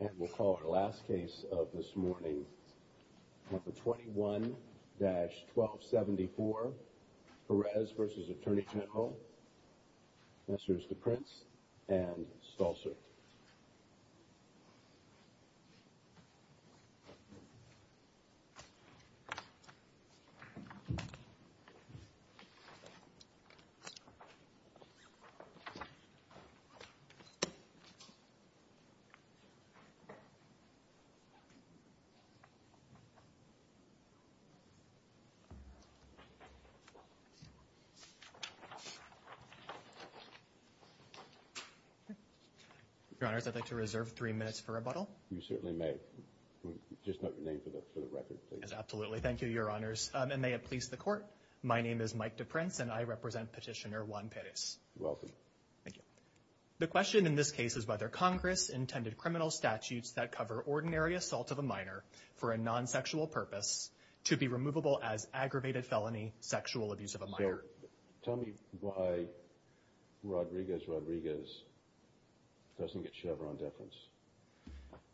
And we'll call our last case of this morning, number 21-1274, Perez v. Attorney General, Messrs. DePrince and Stolzer. Your Honors, I'd like to reserve three minutes for rebuttal. You certainly may. Just note your name for the record, please. Yes, absolutely. Thank you, Your Honors. And may it please the Court, my name is Mike DePrince and I represent Petitioner Juan Perez. You're welcome. The question in this case is whether Congress intended criminal statutes that cover ordinary assault of a minor for a non-sexual purpose to be removable as aggravated felony sexual abuse of a minor. Tell me why Rodriguez-Rodriguez doesn't get Chevron deference.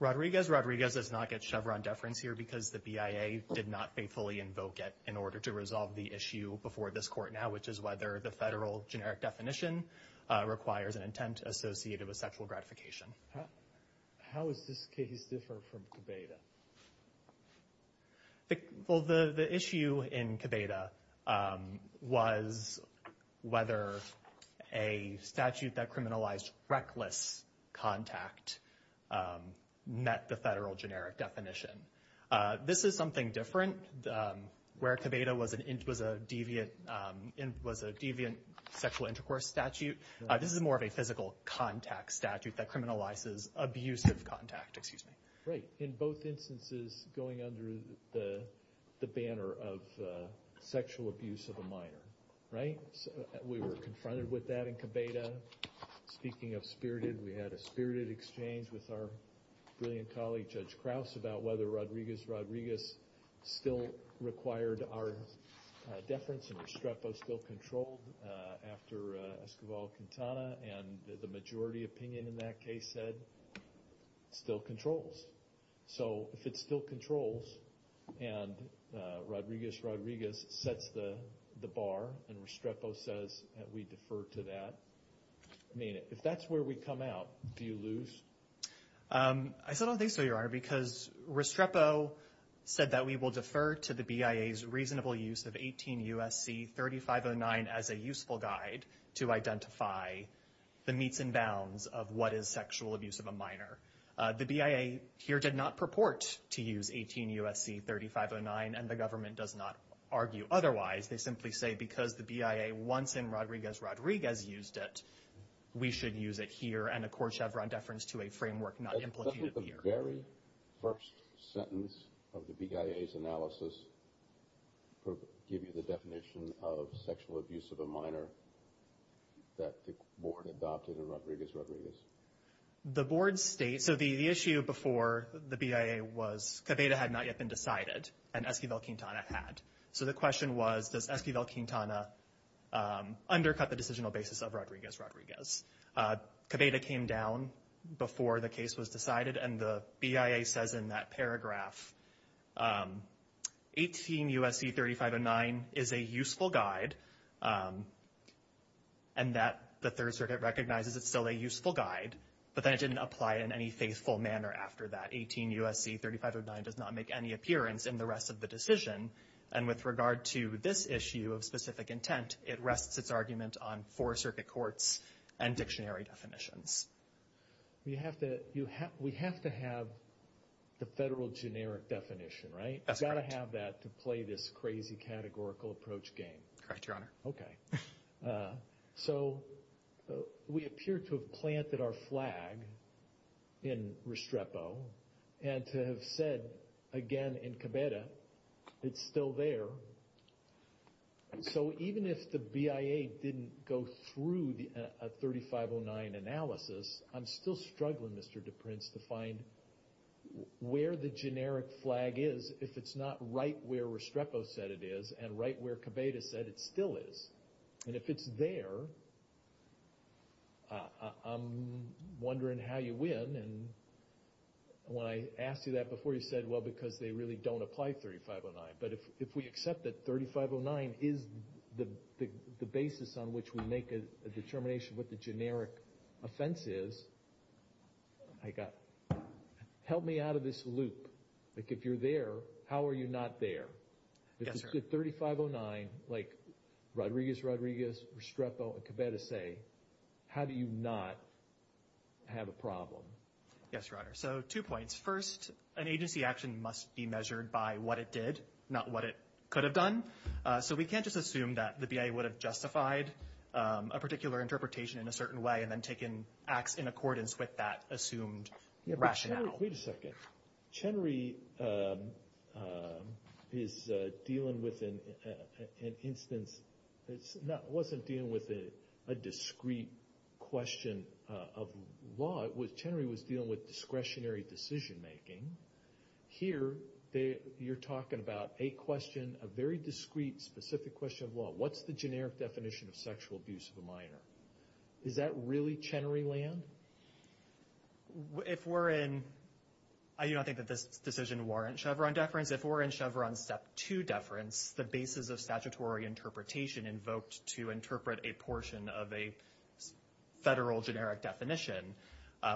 Rodriguez-Rodriguez does not get Chevron deference here because the BIA did not faithfully invoke it in order to resolve the issue before this Court now, which is whether the federal generic definition requires an intent associated with sexual gratification. How does this case differ from Cabeda? Well, the issue in Cabeda was whether a statute that criminalized reckless contact met the federal generic definition. This is something different. Where Cabeda was a deviant sexual intercourse statute, this is more of a physical contact statute that criminalizes abusive contact. Right, in both instances going under the banner of sexual abuse of a minor. Right? We were confronted with that in Cabeda. Speaking of spirited, we had a spirited exchange with our brilliant colleague, Judge Krause, about whether Rodriguez-Rodriguez still required our deference and Restrepo still controlled after Escobar-Quintana and the majority opinion in that case said it still controls. So if it still controls and Rodriguez-Rodriguez sets the bar and Restrepo says that we defer to that, if that's where we come out, do you lose? I don't think so, Your Honor, because Restrepo said that we will defer to the BIA's reasonable use of 18 U.S.C. 3509 as a useful guide to identify the meets and bounds of what is sexual abuse of a minor. The BIA here did not purport to use 18 U.S.C. 3509 and the government does not argue otherwise. They simply say because the BIA once in Rodriguez-Rodriguez used it, we should use it here and, of course, have our deference to a framework not implicated here. Doesn't the very first sentence of the BIA's analysis give you the definition of sexual abuse of a minor that the board adopted in Rodriguez-Rodriguez? The board states – so the issue before the BIA was Cabeda had not yet been decided and Escobar-Quintana had. So the question was, does Escobar-Quintana undercut the decisional basis of Rodriguez-Rodriguez? Cabeda came down before the case was decided and the BIA says in that paragraph, 18 U.S.C. 3509 is a useful guide and that the Third Circuit recognizes it's still a useful guide, but then it didn't apply in any faithful manner after that. 18 U.S.C. 3509 does not make any appearance in the rest of the decision. And with regard to this issue of specific intent, it rests its argument on four circuit courts and dictionary definitions. We have to have the federal generic definition, right? That's correct. We've got to have that to play this crazy categorical approach game. Correct, Your Honor. Okay. So we appear to have planted our flag in Restrepo and to have said, again, in Cabeda, it's still there. So even if the BIA didn't go through a 3509 analysis, I'm still struggling, Mr. DePrince, to find where the generic flag is if it's not right where Restrepo said it is and right where Cabeda said it still is. And if it's there, I'm wondering how you win. And when I asked you that before, you said, well, because they really don't apply 3509. But if we accept that 3509 is the basis on which we make a determination what the generic offense is, help me out of this loop. If you're there, how are you not there? If it's 3509, like Rodriguez, Rodriguez, Restrepo, and Cabeda say, how do you not have a problem? Yes, Your Honor. So two points. First, an agency action must be measured by what it did, not what it could have done. So we can't just assume that the BIA would have justified a particular interpretation in a certain way and then taken acts in accordance with that assumed rationale. Wait a second. Chenery is dealing with an instance that wasn't dealing with a discrete question of law. Chenery was dealing with discretionary decision-making. Here, you're talking about a question, a very discrete, specific question of law. What's the generic definition of sexual abuse of a minor? Is that really Chenery land? If we're in – I do not think that this decision warrants Chevron deference. If we're in Chevron Step 2 deference, the basis of statutory interpretation invoked to interpret a portion of a federal generic definition,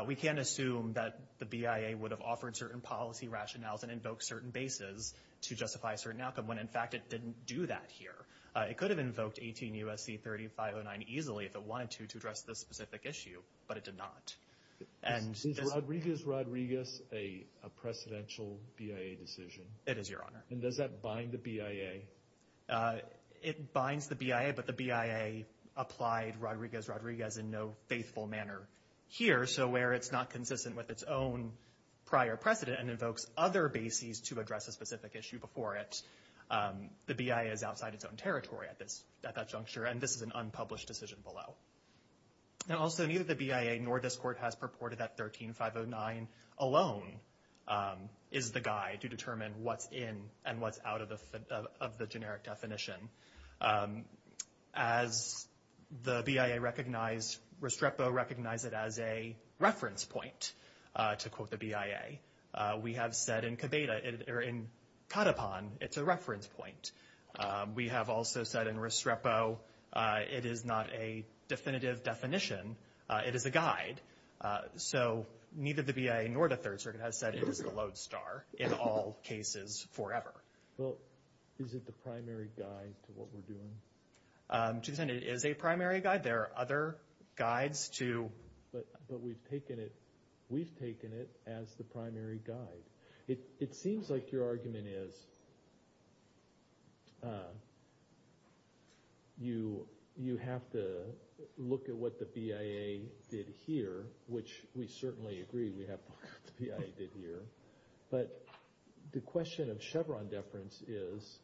we can't assume that the BIA would have offered certain policy rationales and invoked certain bases to justify a certain outcome when, in fact, it didn't do that here. It could have invoked 18 U.S.C. 3509 easily if it wanted to to address this specific issue, but it did not. Is Rodriguez-Rodriguez a precedential BIA decision? It is, Your Honor. And does that bind the BIA? It binds the BIA, but the BIA applied Rodriguez-Rodriguez in no faithful manner here. So where it's not consistent with its own prior precedent and invokes other bases to address a specific issue before it, the BIA is outside its own territory at that juncture, and this is an unpublished decision below. And also, neither the BIA nor this Court has purported that 13509 alone is the guide to determine what's in and what's out of the generic definition. As the BIA recognized, Restrepo recognized it as a reference point, to quote the BIA. We have said in Kadapan it's a reference point. We have also said in Restrepo it is not a definitive definition. It is a guide. So neither the BIA nor the Third Circuit has said it is the lodestar in all cases forever. Well, is it the primary guide to what we're doing? To the extent it is a primary guide, there are other guides to. But we've taken it as the primary guide. It seems like your argument is you have to look at what the BIA did here, which we certainly agree we have to look at what the BIA did here. But the question of Chevron deference is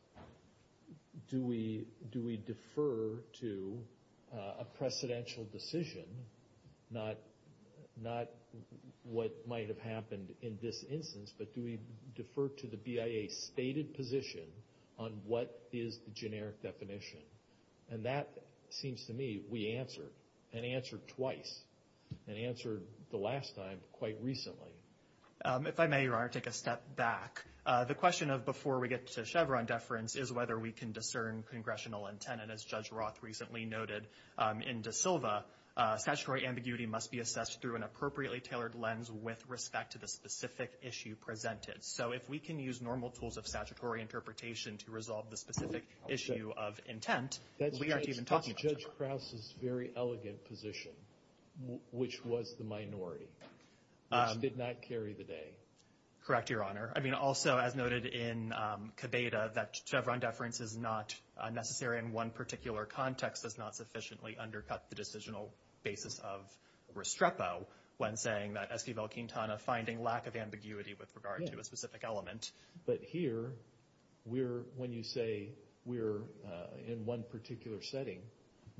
do we defer to a precedential decision, not what might have happened in this instance, but do we defer to the BIA's stated position on what is the generic definition? And that seems to me we answered, and answered twice, and answered the last time quite recently. If I may, Your Honor, take a step back. The question of before we get to Chevron deference is whether we can discern congressional intent. And as Judge Roth recently noted in De Silva, statutory ambiguity must be assessed through an appropriately tailored lens with respect to the specific issue presented. So if we can use normal tools of statutory interpretation to resolve the specific issue of intent, we aren't even talking about Chevron. That's Judge Krause's very elegant position, which was the minority, which did not carry the day. Correct, Your Honor. I mean, also, as noted in Cabeda, that Chevron deference is not necessary in one particular context does not sufficiently undercut the decisional basis of Restrepo when saying that Esquivel-Quintana finding lack of ambiguity with regard to a specific element. But here, when you say we're in one particular setting,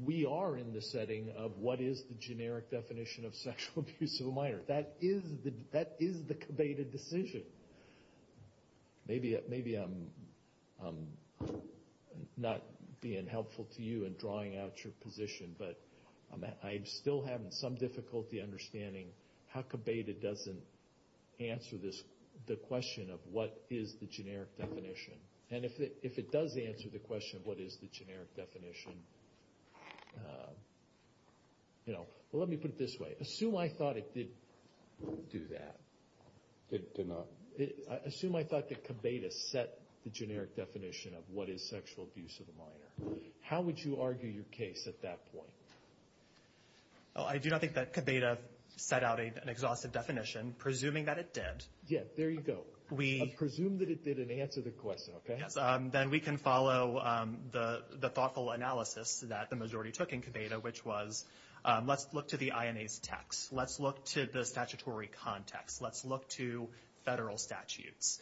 we are in the setting of what is the generic definition of sexual abuse of a minor. That is the Cabeda decision. Maybe I'm not being helpful to you in drawing out your position, but I'm still having some difficulty understanding how Cabeda doesn't answer the question of what is the generic definition. And if it does answer the question of what is the generic definition, you know, well, let me put it this way. Assume I thought it did do that. It did not. Assume I thought that Cabeda set the generic definition of what is sexual abuse of a minor. How would you argue your case at that point? I do not think that Cabeda set out an exhaustive definition, presuming that it did. Yeah, there you go. Presume that it did and answer the question, okay? Then we can follow the thoughtful analysis that the majority took in Cabeda, which was, let's look to the INA's text. Let's look to the statutory context. Let's look to federal statutes.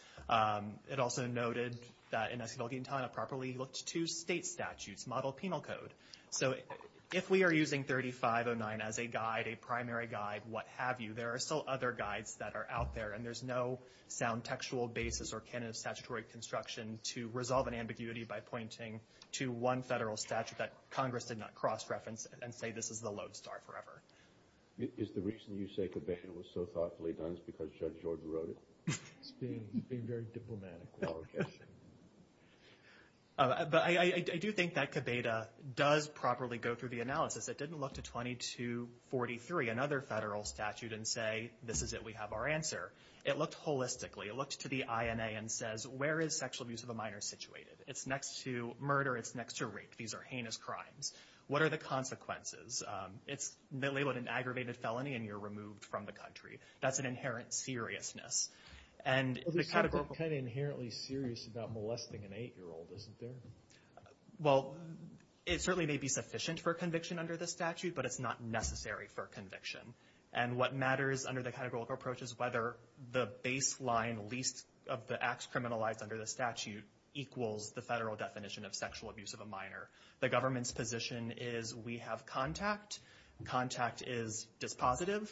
It also noted that in Esquivel-Quintana properly looked to state statutes, model penal code. So if we are using 3509 as a guide, a primary guide, what have you, there are still other guides that are out there, and there's no sound textual basis or canon of statutory construction to resolve an ambiguity by pointing to one federal statute that Congress did not cross-reference and say this is the lodestar forever. Is the reason you say Cabeda was so thoughtfully done because Judge George wrote it? It's being very diplomatic. But I do think that Cabeda does properly go through the analysis. It didn't look to 2243, another federal statute, and say, this is it, we have our answer. It looked holistically. It looked to the INA and says, where is sexual abuse of a minor situated? It's next to murder. It's next to rape. These are heinous crimes. What are the consequences? It's labeled an aggravated felony, and you're removed from the country. That's an inherent seriousness. And the categorical – It's kind of inherently serious about molesting an 8-year-old, isn't there? Well, it certainly may be sufficient for conviction under the statute, but it's not necessary for conviction. And what matters under the categorical approach is whether the baseline least of the acts criminalized under the statute equals the federal definition of sexual abuse of a minor. The government's position is we have contact. Contact is dispositive.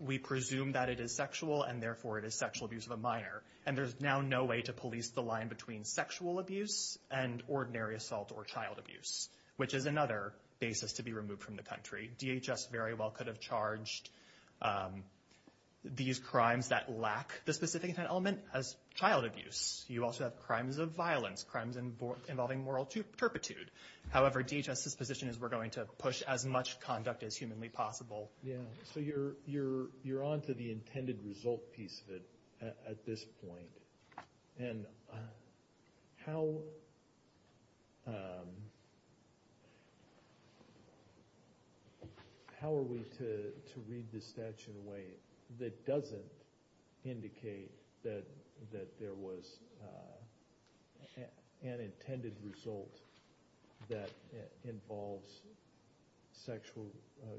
We presume that it is sexual, and therefore it is sexual abuse of a minor. And there's now no way to police the line between sexual abuse and ordinary assault or child abuse, which is another basis to be removed from the country. DHS very well could have charged these crimes that lack the specific intent element as child abuse. You also have crimes of violence, crimes involving moral turpitude. However, DHS's position is we're going to push as much conduct as humanly possible. Yeah, so you're on to the intended result piece of it at this point. And how are we to read the statute in a way that doesn't indicate that there was an intended result that involves sexual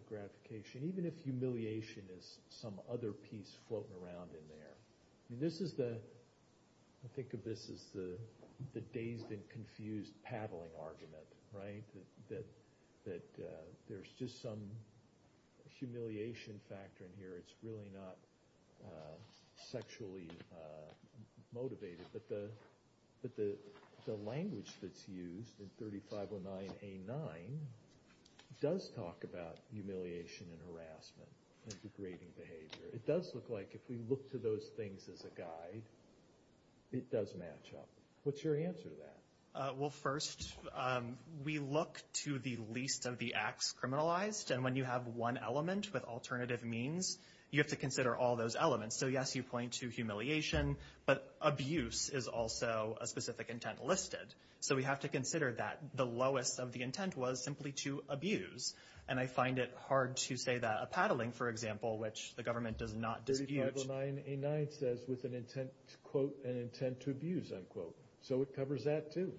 gratification, even if humiliation is some other piece floating around in there? I think of this as the dazed and confused paddling argument, right, that there's just some humiliation factor in here. It's really not sexually motivated. But the language that's used in 3509A9 does talk about humiliation and harassment and degrading behavior. It does look like if we look to those things as a guide, it does match up. What's your answer to that? Well, first, we look to the least of the acts criminalized. And when you have one element with alternative means, you have to consider all those elements. So, yes, you point to humiliation, but abuse is also a specific intent listed. So we have to consider that the lowest of the intent was simply to abuse. And I find it hard to say that a paddling, for example, which the government does not dispute. 3509A9 says with an intent, quote, an intent to abuse, unquote. So it covers that, too.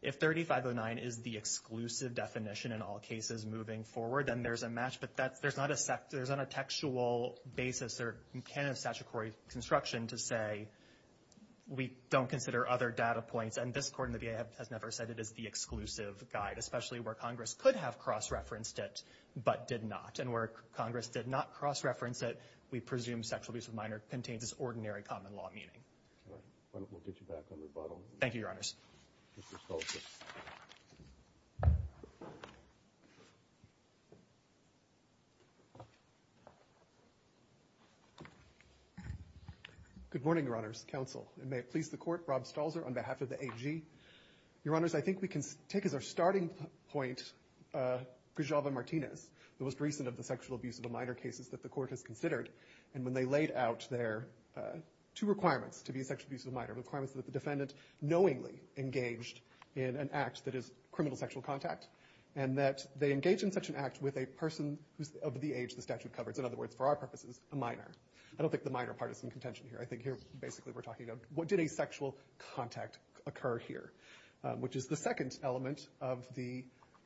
If 3509 is the exclusive definition in all cases moving forward, then there's a match. But that's not a textual basis or can of statutory construction to say we don't consider other data points. And this Court in the VA has never said it is the exclusive guide, especially where Congress could have cross-referenced it but did not. And where Congress did not cross-reference it, we presume sexual abuse of minor contains this ordinary common-law meaning. All right. We'll get you back on rebuttal. Thank you, Your Honors. Mr. Stolzer. Good morning, Your Honors. Counsel. And may it please the Court, Rob Stolzer on behalf of the AG. Your Honors, I think we can take as our starting point Guijalva-Martinez, the most recent of the sexual abuse of a minor cases that the Court has considered. And when they laid out their two requirements to be a sexual abuse of a minor, requirements that the defendant knowingly engaged in an act that is criminal sexual contact, and that they engage in such an act with a person who's of the age the statute covers, in other words, for our purposes, a minor. I don't think the minor part is in contention here. I think here basically we're talking about what did a sexual contact occur here, which is the second element of the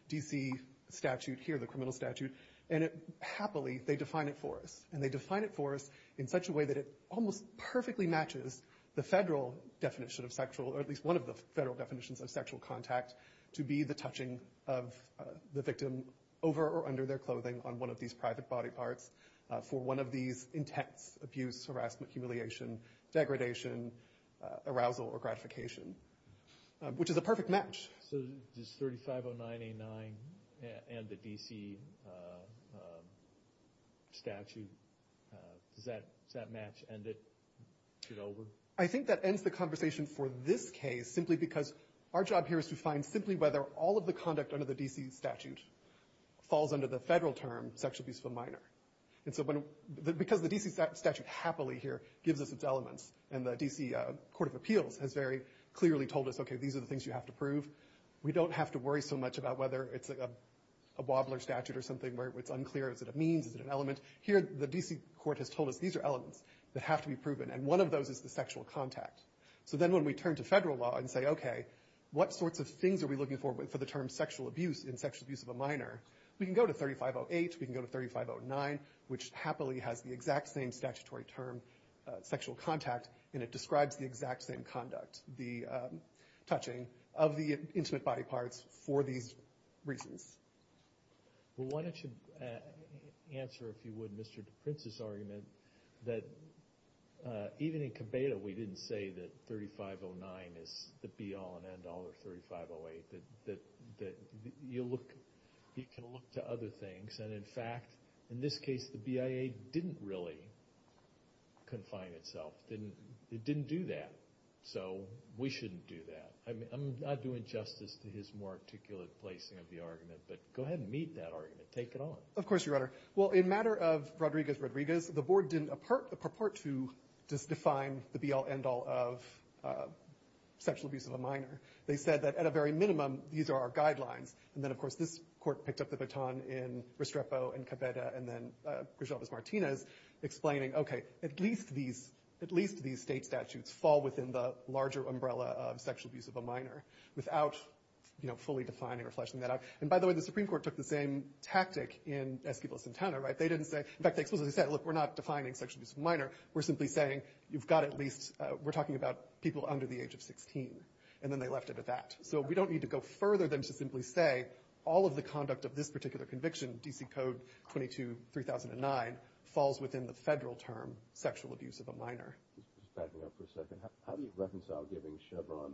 D.C. statute here, the criminal statute. And it happily, they define it for us. And they define it for us in such a way that it almost perfectly matches the federal definition of sexual, or at least one of the federal definitions of sexual contact to be the touching of the victim over or under their clothing on one of these situations, which is a perfect match. So does 3509A9 and the D.C. statute, does that match end it, get over? I think that ends the conversation for this case simply because our job here is to find simply whether all of the conduct under the D.C. statute falls under the federal term sexual abuse of a minor. And so because the D.C. statute happily here gives us its elements, and the D.C. Court of Appeals has very clearly told us, okay, these are the things you have to prove, we don't have to worry so much about whether it's a wobbler statute or something where it's unclear, is it a means, is it an element. Here the D.C. court has told us these are elements that have to be proven, and one of those is the sexual contact. So then when we turn to federal law and say, okay, what sorts of things are we looking for for the term sexual abuse in sexual abuse of a minor, we can go to 3508, we can go to 3509, which happily has the exact same statutory term, sexual contact, and it describes the exact same conduct, the touching of the intimate body parts for these reasons. Well, why don't you answer, if you would, Mr. DePrince's argument that even in Cabeda we didn't say that 3509 is the be-all and end-all of 3508, that you look to other things, and in fact, in this case, the BIA didn't really confine itself, it didn't do that, so we shouldn't do that. I mean, I'm not doing justice to his more articulate placing of the argument, but go ahead and meet that argument, take it on. Of course, Your Honor. Well, in matter of Rodriguez-Rodriguez, the board didn't purport to just define the be-all, end-all of sexual abuse of a minor. They said that at a very minimum, these are our guidelines. And then, of course, this court picked up the baton in Restrepo and Cabeda and then Grijalva's Martinez, explaining, okay, at least these state statutes fall within the larger umbrella of sexual abuse of a minor without fully defining or fleshing that out. And by the way, the Supreme Court took the same tactic in Esquivel and Centeno, right? They didn't say, in fact, they explicitly said, look, we're not defining sexual abuse of a minor, we're simply saying you've got at least, we're talking about people under the age of 16, and then they left it at that. So we don't need to go further than to simply say all of the conduct of this particular conviction, D.C. Code 22-3009, falls within the federal term sexual abuse of a minor. Just backing up for a second. How do you reconcile giving Chevron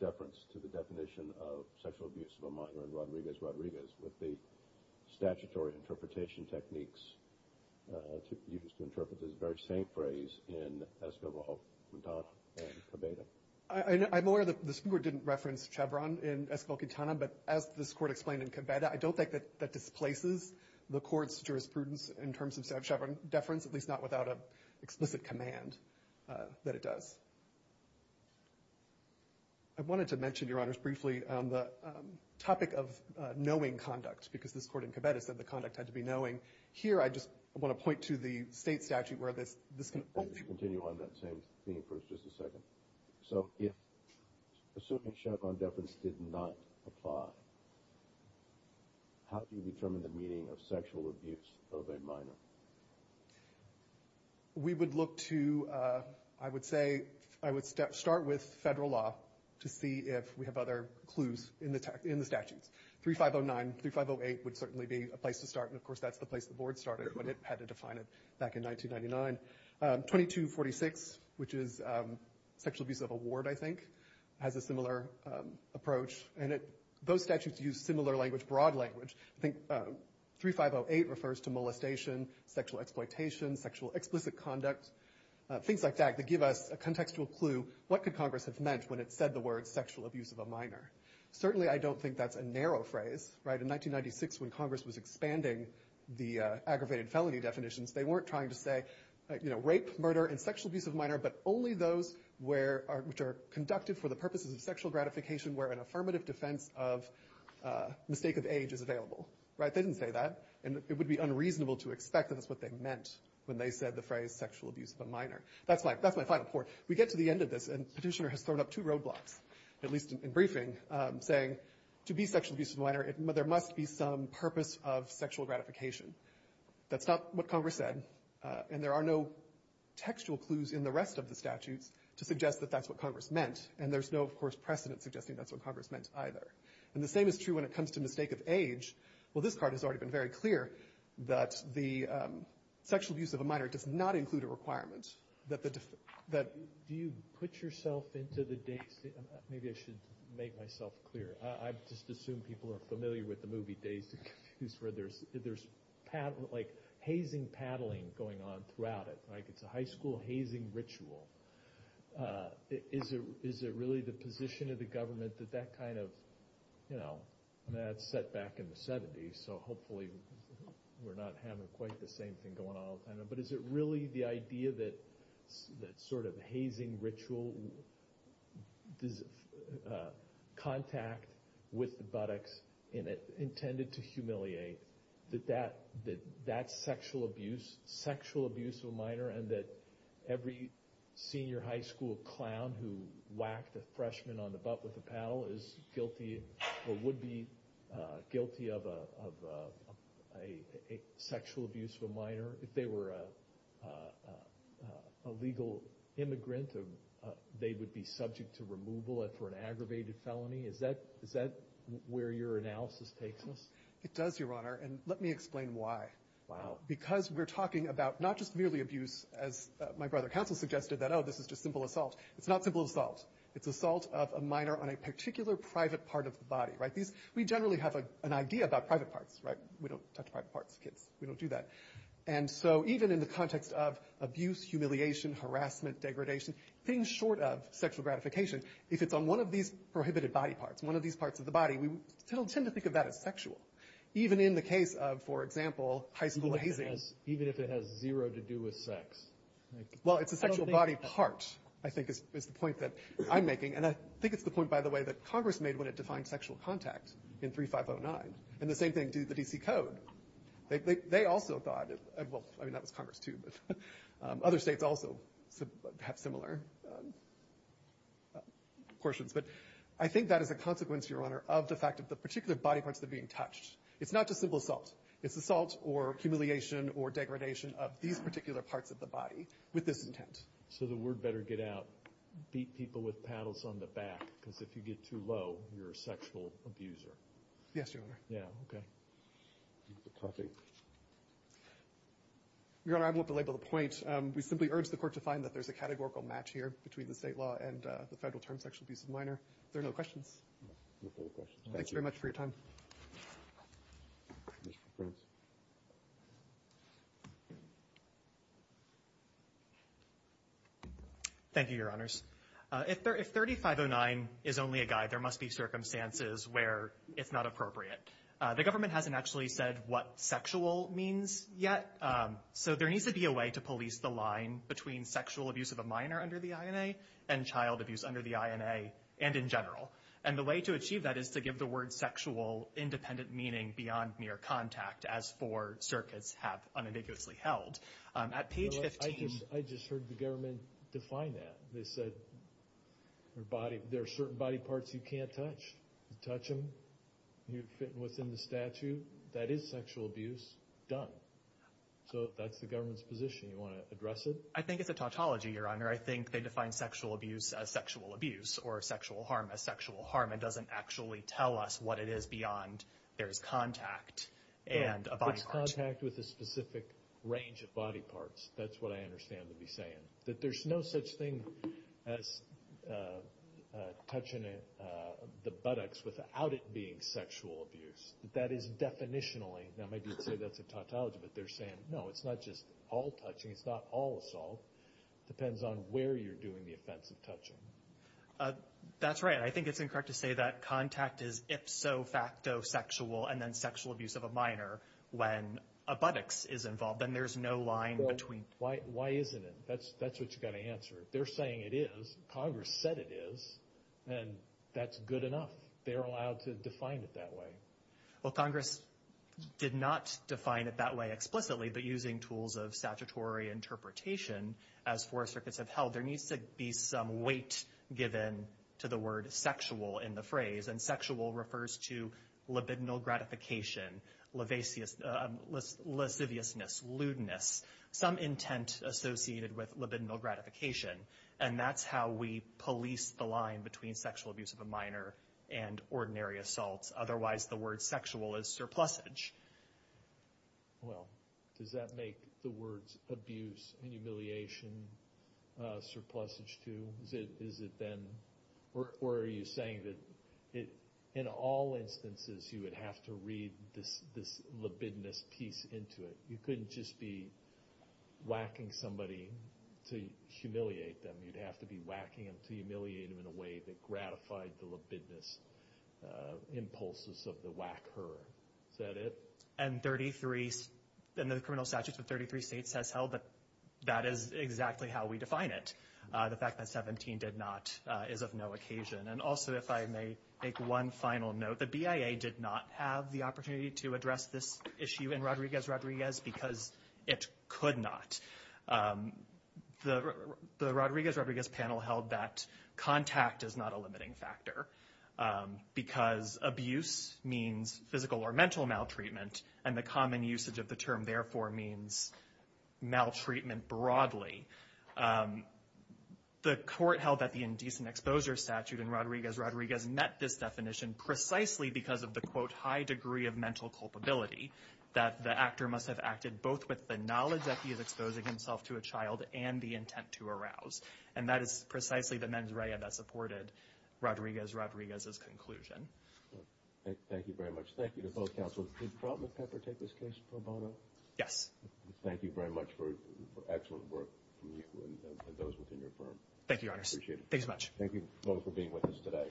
deference to the definition of sexual abuse of a minor in Rodriguez-Rodriguez with the statutory interpretation techniques used to interpret this very same phrase in Esquivel, Quintana, and Cabeda? I'm aware that the Supreme Court didn't reference Chevron in Esquivel-Quintana, but as this Court explained in Cabeda, I don't think that that displaces the Court's jurisprudence in terms of Chevron deference, at least not without an explicit command that it does. I wanted to mention, Your Honors, briefly the topic of knowing conduct, because this Court in Cabeda said the conduct had to be knowing. Here, I just want to point to the state statute where this can also be used. Let me just continue on that same theme for just a second. So if a certain Chevron deference did not apply, how do you determine the meaning of sexual abuse of a minor? We would look to, I would say, I would start with federal law to see if we have other clues in the statutes. 3509, 3508 would certainly be a place to start, and of course that's the place the Board started, but it had to define it back in 1999. 2246, which is sexual abuse of a ward, I think, has a similar approach. And those statutes use similar language, broad language. I think 3508 refers to molestation, sexual exploitation, sexual explicit conduct, things like that that give us a contextual clue, what could Congress have meant when it said the words sexual abuse of a minor? Certainly I don't think that's a narrow phrase. In 1996, when Congress was expanding the aggravated felony definitions, they weren't trying to say, you know, rape, murder, and sexual abuse of a minor, but only those which are conducted for the purposes of sexual gratification where an affirmative defense of mistake of age is available. They didn't say that, and it would be unreasonable to expect that that's what they meant when they said the phrase sexual abuse of a minor. That's my final point. We get to the end of this, and Petitioner has thrown up two roadblocks, at least in briefing, saying to be sexual abuse of a minor, there must be some purpose of sexual gratification. That's not what Congress said, and there are no textual clues in the rest of the statutes to suggest that that's what Congress meant, and there's no, of course, precedent suggesting that's what Congress meant either. And the same is true when it comes to mistake of age. Well, this part has already been very clear that the sexual abuse of a minor does not include a requirement that the defense that you put yourself into the dates maybe I should make myself clear. I just assume people are familiar with the movie Days to Confuse where there's hazing paddling going on throughout it. It's a high school hazing ritual. Is it really the position of the government that that kind of, you know, that's set back in the 70s, so hopefully we're not having quite the same thing going on all the time. But is it really the idea that sort of hazing ritual, contact with the buttocks intended to humiliate, that that's sexual abuse, sexual abuse of a minor, and that every senior high school clown who whacked a freshman on the butt with a paddle is guilty or would be guilty of a sexual abuse of a minor? If they were a legal immigrant, they would be subject to removal for an aggravated felony? Is that where your analysis takes us? It does, Your Honor. And let me explain why. Wow. Because we're talking about not just merely abuse, as my brother counsel suggested, that, oh, this is just simple assault. It's not simple assault. It's assault of a minor on a particular private part of the body, right? We generally have an idea about private parts, right? We don't touch private parts of kids. We don't do that. And so even in the context of abuse, humiliation, harassment, degradation, things short of sexual gratification, if it's on one of these prohibited body parts, one of these parts of the body, we still tend to think of that as sexual. Even in the case of, for example, high school hazing. Even if it has zero to do with sex? Well, it's a sexual body part, I think, is the point that I'm making. And I think it's the point, by the way, that Congress made when it defined sexual contact in 3509. And the same thing did the D.C. Code. They also thought, well, I mean, that was Congress, too. But other states also have similar portions. But I think that is a consequence, Your Honor, of the fact that the particular body parts that are being touched. It's not just simple assault. It's assault or humiliation or degradation of these particular parts of the body with this intent. So the word better get out. Beat people with paddles on the back. Because if you get too low, you're a sexual abuser. Yes, Your Honor. Yeah, okay. Your Honor, I won't belabor the point. We simply urge the Court to find that there's a categorical match here between the state law and the Federal term sexual abuse of minor. If there are no questions. No further questions. Thank you very much for your time. Mr. Prince. Thank you, Your Honors. If 3509 is only a guide, there must be circumstances where it's not appropriate. The government hasn't actually said what sexual means yet. So there needs to be a way to police the line between sexual abuse of a minor under the INA and child abuse under the INA and in general. And the way to achieve that is to give the word sexual independent meaning beyond mere contact as four circuits have unambiguously held. At page 15. I just heard the government define that. They said there are certain body parts you can't touch. Touch them. You fit within the statute. That is sexual abuse. Done. So that's the government's position. You want to address it? I think it's a tautology, Your Honor. I think they define sexual abuse as sexual abuse or sexual harm as sexual harm. It doesn't actually tell us what it is beyond there's contact and a body part. It's contact with a specific range of body parts. That's what I understand to be saying. That there's no such thing as touching the buttocks without it being sexual abuse. That is definitionally. Now, maybe you'd say that's a tautology, but they're saying, no, it's not just all touching. It's not all assault. It depends on where you're doing the offensive touching. That's right. I think it's incorrect to say that contact is ipso facto sexual and then sexual abuse of a minor when a buttocks is involved. Then there's no line between. Why isn't it? That's what you've got to answer. They're saying it is. Congress said it is. And that's good enough. They're allowed to define it that way. Well, Congress did not define it that way explicitly. But using tools of statutory interpretation, as four circuits have held, there needs to be some weight given to the word sexual in the phrase. And sexual refers to libidinal gratification, lasciviousness, lewdness, some intent associated with libidinal gratification. And that's how we police the line between sexual abuse of a minor and ordinary assaults. Otherwise, the word sexual is surplusage. Well, does that make the words abuse and humiliation surplusage too? Or are you saying that in all instances you would have to read this libidinous piece into it? You couldn't just be whacking somebody to humiliate them. You'd have to be whacking them to humiliate them in a way that gratified the libidinous impulses of the whacker. Is that it? And the criminal statutes of 33 states has held that that is exactly how we define it. The fact that 17 did not is of no occasion. And also, if I may make one final note, the BIA did not have the opportunity to address this issue in Rodriguez-Rodriguez because it could not. The Rodriguez-Rodriguez panel held that contact is not a limiting factor because abuse means physical or mental maltreatment, and the common usage of the term therefore means maltreatment broadly. The court held that the indecent exposure statute in Rodriguez-Rodriguez met this definition precisely because of the, quote, high degree of mental culpability, that the actor must have acted both with the knowledge that he is exposing himself to a child and the intent to arouse. And that is precisely the mens rea that supported Rodriguez-Rodriguez's conclusion. Thank you very much. Thank you to both counsels. Did Fraudman Pepper take this case, Pro Bono? Yes. Thank you very much for excellent work from you and those within your firm. Thank you, Your Honors. Appreciate it. Thank you both for being with us today.